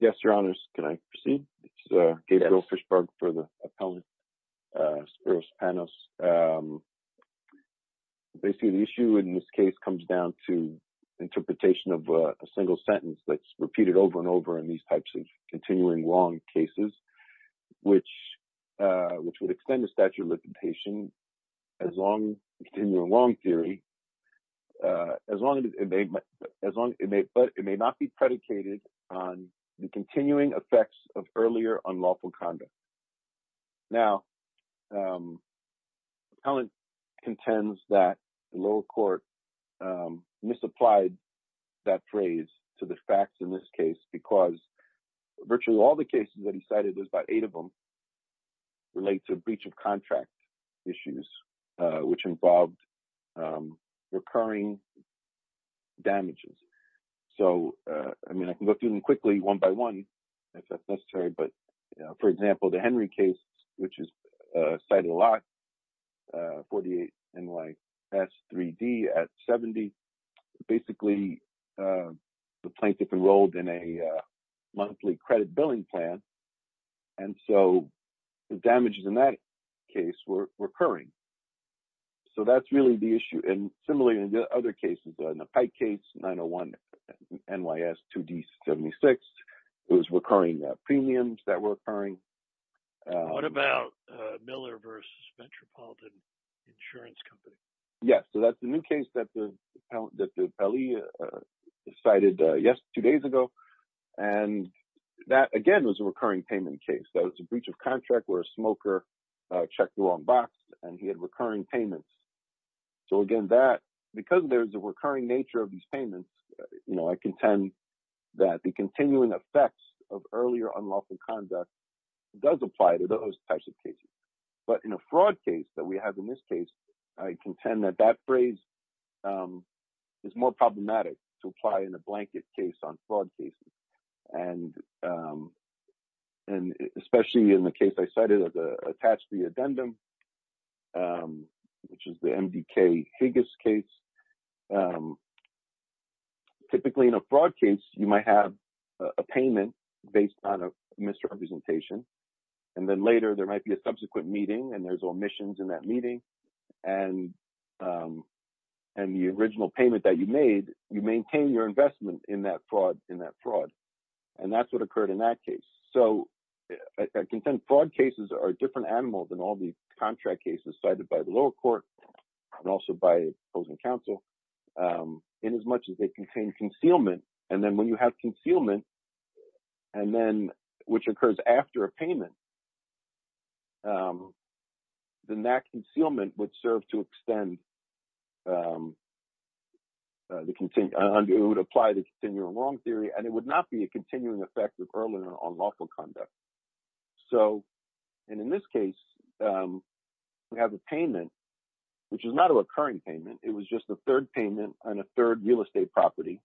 Yes, Your Honors, can I proceed? It's Gabriel Fishberg for the Appellant, Spiros Panos. Basically, the issue in this case comes down to interpretation of a single sentence that's the statute of limitation as long as it may not be predicated on the continuing effects of earlier unlawful conduct. Now, the appellant contends that the lower court misapplied that phrase to the facts in this case because virtually all the cases that he cited, there's about eight of them, relate to breach of contract issues, which involved recurring damages. So, I mean, I can go through them quickly one by one if that's necessary, but for example, the Henry case, which is cited a damages in that case were recurring. So, that's really the issue. And similarly, in the other cases, in the Pike case, 901 NYS 2D76, it was recurring premiums that were occurring. What about Miller v. Metropolitan Insurance Company? Yes, so that's the new case that the appellee cited two days ago, and that again was a breach of contract where a smoker checked the wrong box and he had recurring payments. So, again, that because there's a recurring nature of these payments, you know, I contend that the continuing effects of earlier unlawful conduct does apply to those types of cases. But in a fraud case that we have in this case, I contend that that phrase is more problematic to apply in a blanket case on fraud cases. And especially in the case I cited as attached re-addendum, which is the MDK Higgis case. Typically, in a fraud case, you might have a payment based on a misrepresentation. And then later, there might be a subsequent meeting and there's omissions in that meeting. And the original payment that you made, you maintain your investment in that fraud. And that's what occurred in that case. So, I contend fraud cases are a different animal than all the contract cases cited by the lower court and also by opposing counsel in as much as they contain concealment. And then when you have concealment, which occurs after a payment, then that concealment would serve to extend the continued, it would apply the continual wrong theory and it would not be a continuing effect of earlier unlawful conduct. So, and in this case, we have a payment, which is not a recurring payment. It was just the third payment on a third real estate property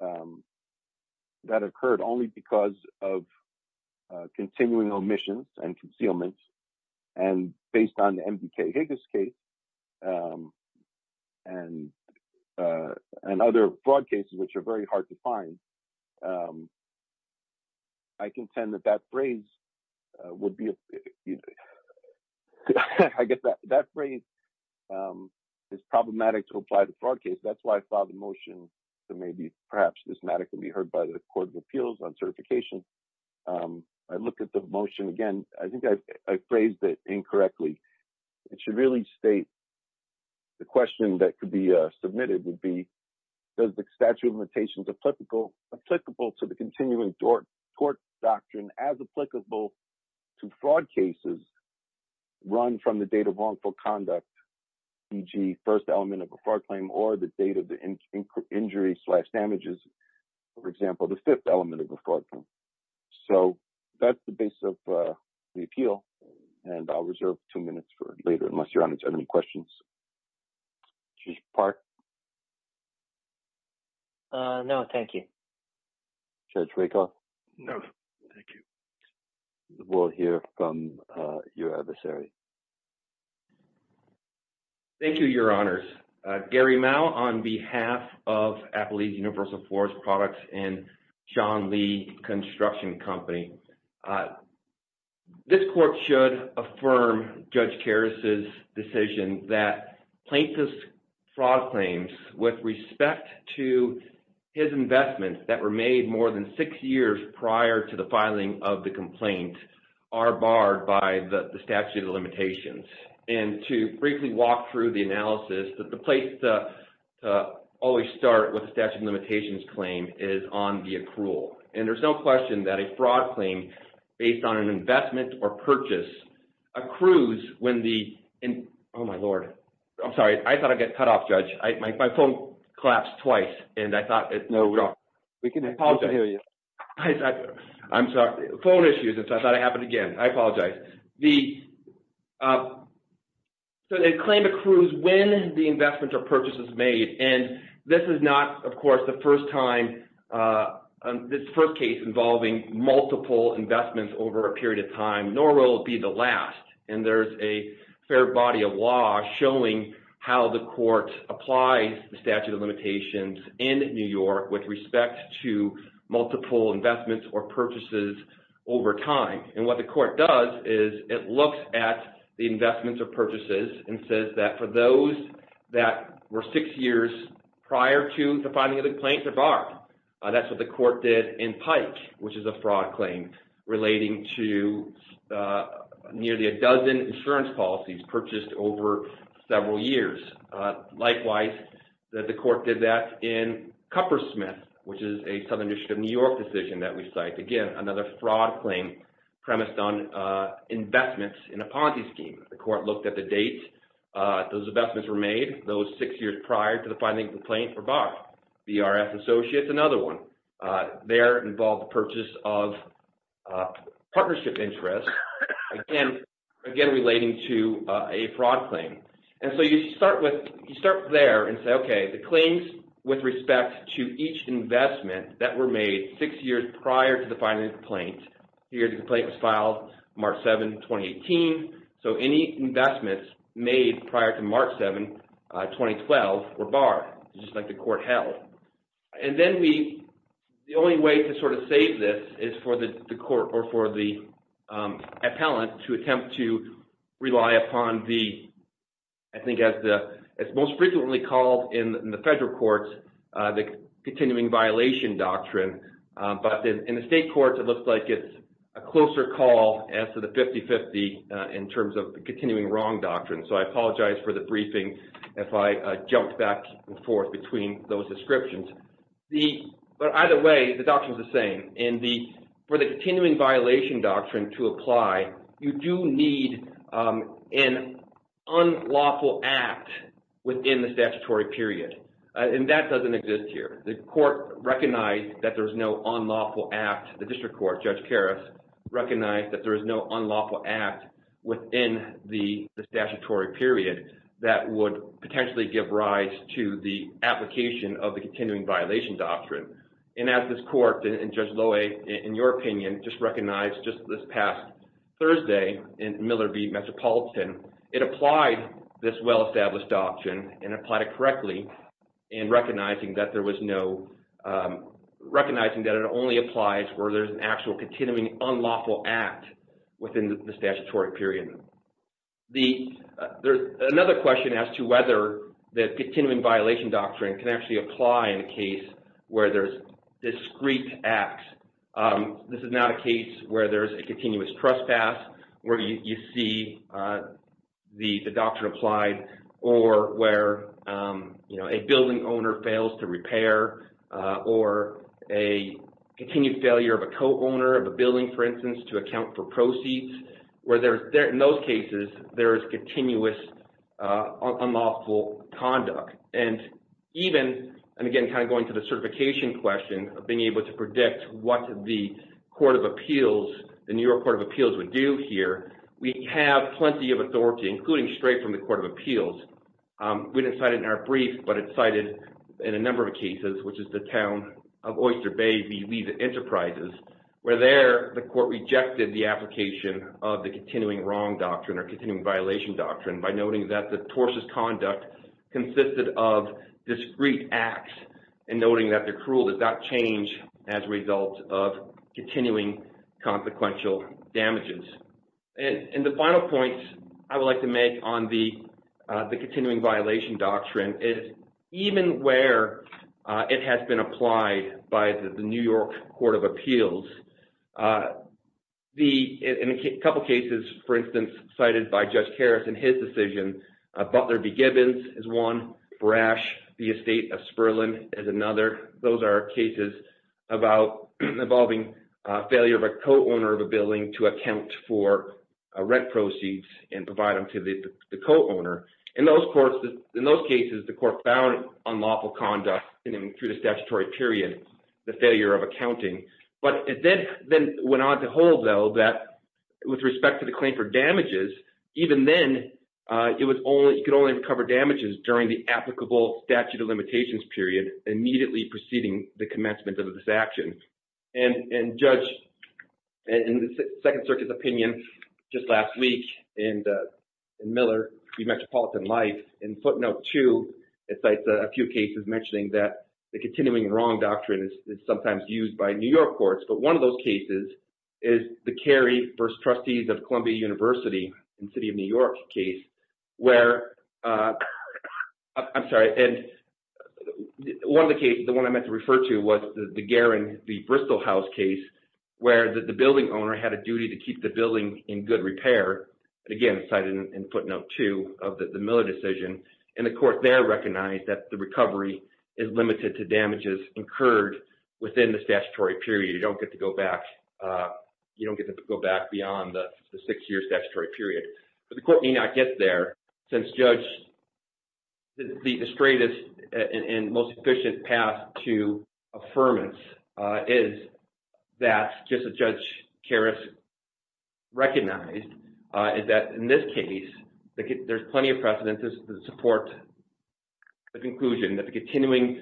that occurred only because of continuing omissions and concealment. And based on the MDK Higgis case and other fraud cases, which are very hard to find, I contend that that phrase would be, you know, I guess that phrase is problematic to apply to fraud case. That's why I filed a motion to maybe perhaps this matter can be heard by the court of appeals on certification. I look at the motion again, I think I phrased it incorrectly. It should really state the question that could be submitted would be, does the statute of limitations applicable to the fraud cases run from the date of wrongful conduct, e.g. first element of a fraud claim or the date of the injury slash damages, for example, the fifth element of a fraud claim. So that's the base of the appeal. And I'll reserve two minutes for later, unless you're on to any questions. Chief Park? No, thank you. Judge Rakoff? No, thank you. We'll hear from your adversary. Thank you, Your Honors. Gary Mao on behalf of Appalachian Universal Forest Products and Shawn Lee Construction Company. This court should affirm Judge Karras' decision that plaintiff's fraud claims with respect to his investments that were made more than six years prior to the filing of the complaint are barred by the statute of limitations. And to briefly walk through the analysis that the place to always start with the statute of limitations claim is on the accrual. And there's no question that a fraud claim based on an investment or purchase accrues when the... Oh, my Lord. I'm sorry. I thought I got cut off, Judge. My phone collapsed twice and I thought... We can hear you. I'm sorry. Phone issues. I thought it happened again. I apologize. So the claim accrues when the investment or purchase is made. And this is not, of course, the first time, this first case involving multiple investments over a period of time, nor will it be the last. And there's a fair body of law showing how the court applies the statute of limitations in New York with respect to multiple investments or purchases over time. And what the court does is it looks at the investments or purchases and says that for those that were six years prior to the filing of the complaint are barred. That's what the court did in Pike, which is a fraud claim relating to nearly a dozen insurance policies purchased over several years. Likewise, the court did that in Cuppersmith, which is a Southern District of New York decision that we cite. Again, another fraud claim premised on investments in a policy scheme. The court looked at the date those investments were made, those six years prior to the filing of the complaint were barred. BRS Associates, another one, there involved the purchase of And so you start there and say, okay, the claims with respect to each investment that were made six years prior to the filing of the complaint, here the complaint was filed March 7, 2018. So any investments made prior to March 7, 2012 were barred, just like the court held. And then the only way to sort of save this is for the court or for the appellant to attempt to I think as most frequently called in the federal courts, the continuing violation doctrine. But in the state courts, it looks like it's a closer call as to the 50-50 in terms of the continuing wrong doctrine. So I apologize for the briefing if I jumped back and forth between those descriptions. But either way, the doctrine is the same. And for the continuing violation doctrine to apply, you do need an unlawful act within the statutory period. And that doesn't exist here. The court recognized that there was no unlawful act, the district court, Judge Karas, recognized that there is no unlawful act within the statutory period that would potentially give rise to the application of the continuing violation doctrine. And as this court, and Judge Loewe, in your opinion, just recognized just this past Thursday in Miller v. Metropolitan, it applied this well-established doctrine and applied it correctly in recognizing that there was no, recognizing that it only applies where there's an actual continuing unlawful act within the statutory period. Another question as to whether the continuing violation doctrine can actually apply in a case where there's discrete acts. This is not a case where there's a continuous trespass, where you see the doctrine applied, or where a building owner fails to repair, or a continued failure of a co-owner of a building, for instance, to account for proceeds, where there's, in those cases, there is continuous unlawful conduct. And even, and again, kind of going to the certification question of being able to predict what the Court of Appeals, the New York Court of Appeals would do here, we have plenty of authority, including straight from the Court of Appeals. We didn't cite it in our brief, but it's cited in a number of cases, which is the town of Oyster Bay v. Lee's Enterprises, where there the court rejected the application of the continuing wrong doctrine, or continuing violation doctrine, by noting that the tortious conduct consisted of discrete acts, and noting that the cruel does not change as a result of continuing consequential damages. And the final point I would like to make on the continuing violation doctrine is, even where it has been applied by the New York Court of Appeals, in a couple cases, for instance, cited by Judge Harris in his decision, Butler v. Gibbons is one, Brash v. Estate of Sperling is another. Those are cases about involving failure of a co-owner of a building to account for rent proceeds, and provide them to the co-owner. In those courts, in those cases, the through the statutory period, the failure of accounting. But it then went on to hold, though, that with respect to the claim for damages, even then, you could only recover damages during the applicable statute of limitations period, immediately preceding the commencement of this action. And Judge, in the Second Circuit's opinion, just last week, in Miller v. Metropolitan Life, in footnote two, it cites a few cases mentioning that the continuing wrong doctrine is sometimes used by New York courts. But one of those cases is the Carey v. Trustees of Columbia University in the City of New York case, where, I'm sorry, and one of the cases, the one I meant to refer to, was the Garin v. Bristol House case, where the building owner had a duty to keep the building in good repair. Again, cited in footnote two of the Miller decision. And the court there recognized that the recovery is limited to damages incurred within the statutory period. You don't get to go back. You don't get to go back beyond the six-year statutory period. But the court may not get there, since Judge, the straightest and most efficient path to affirmance is that, just as Judge Karras recognized, is that in this case, there's plenty of precedence to support the conclusion that the continuing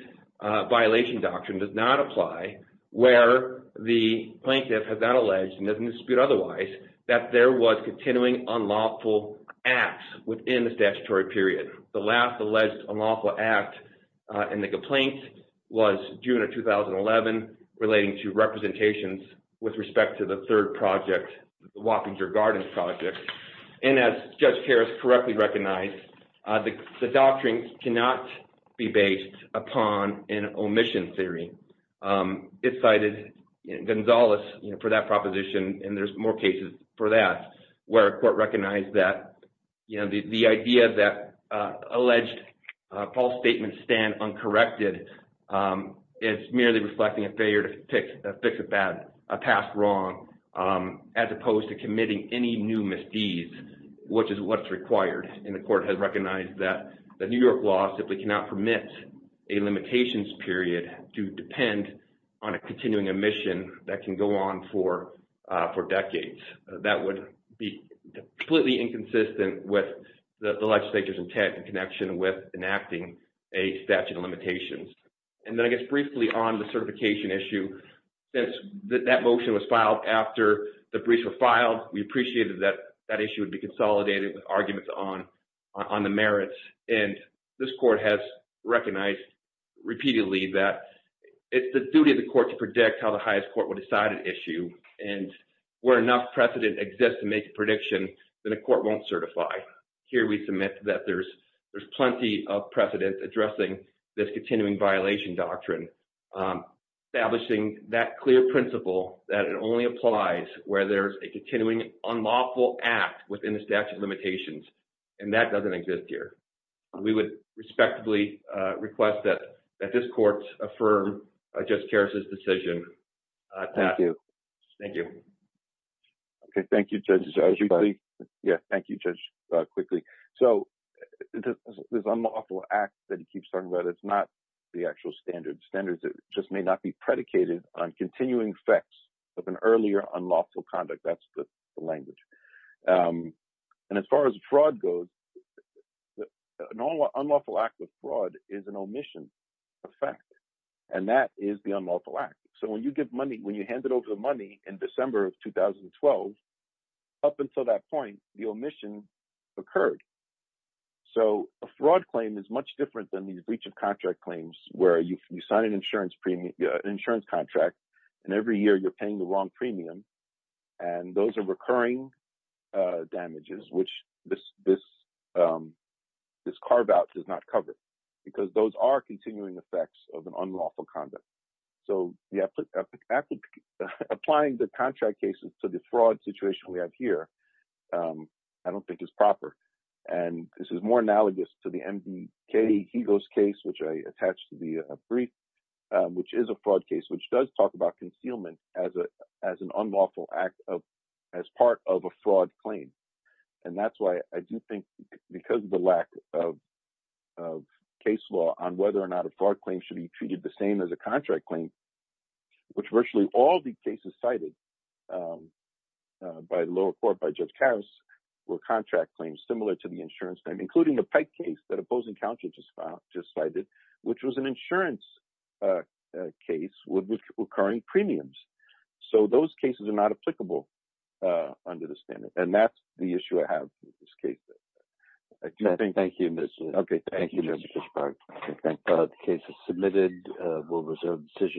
violation doctrine does not apply where the plaintiff has not alleged, and doesn't dispute otherwise, that there was continuing unlawful acts within the statutory period. The last alleged unlawful act in the complaint was June of 2011, relating to representations with respect to the third project, the Wappinger Gardens project. And as Judge Karras correctly recognized, the doctrine cannot be based upon an omission theory. It cited Gonzales for that proposition, and there's more cases for that, where a court recognized that the idea that alleged false statements stand uncorrected is merely reflecting a failure to fix a past wrong, as opposed to committing any new misdeeds, which is what's required. And the court has recognized that the New York law simply cannot permit a limitations period to depend on a continuing omission that can go on for decades. That would be completely inconsistent with the legislature's intent in connection with enacting a statute of limitations. And then I guess briefly on the certification issue, since that motion was filed after the briefs were filed, we appreciated that that issue would be consolidated with arguments on the merits. And this court has recognized repeatedly that it's the duty of the court to predict how the highest court will decide an issue. And where enough precedent exists to make a prediction, then a court won't certify. Here we submit that there's plenty of precedent addressing this continuing violation doctrine, establishing that clear principle that it only applies where there's a continuing unlawful act within the statute of limitations, and that doesn't exist here. We would respectably request that this court affirm Judge Karras' decision. Thank you. Thank you. Okay. Thank you, Judge. Yeah. Thank you, Judge, quickly. So this unlawful act that he keeps talking about, it's not the actual standard. Standards just may not be predicated on continuing effects of an earlier unlawful conduct. That's the language. And as far as fraud goes, an unlawful act of fraud is an omission effect. And that is the unlawful act. So when you give the money in December of 2012, up until that point, the omission occurred. So a fraud claim is much different than these breach of contract claims, where you sign an insurance contract, and every year you're paying the wrong premium. And those are recurring damages, which this carve-out does not cover, because those are continuing effects of an unlawful conduct. So applying the contract cases to the fraud situation we have here, I don't think is proper. And this is more analogous to the MDK Higo's case, which I attached to the brief, which is a fraud case, which does talk about concealment as an unlawful act of as part of a fraud claim. And that's why I do think because of the lack of case law on whether or not a fraud claim should be treated the same as a contract claim, which virtually all the cases cited by the lower court, by Judge Karas, were contract claims similar to the insurance claim, including the Pike case that opposing counsel just cited, which was an insurance case with recurring premiums. So those cases are not applicable under the standard. And that's the issue I have with this case. Thank you, Mr. Sparks. The case is submitted. We'll reserve the decision.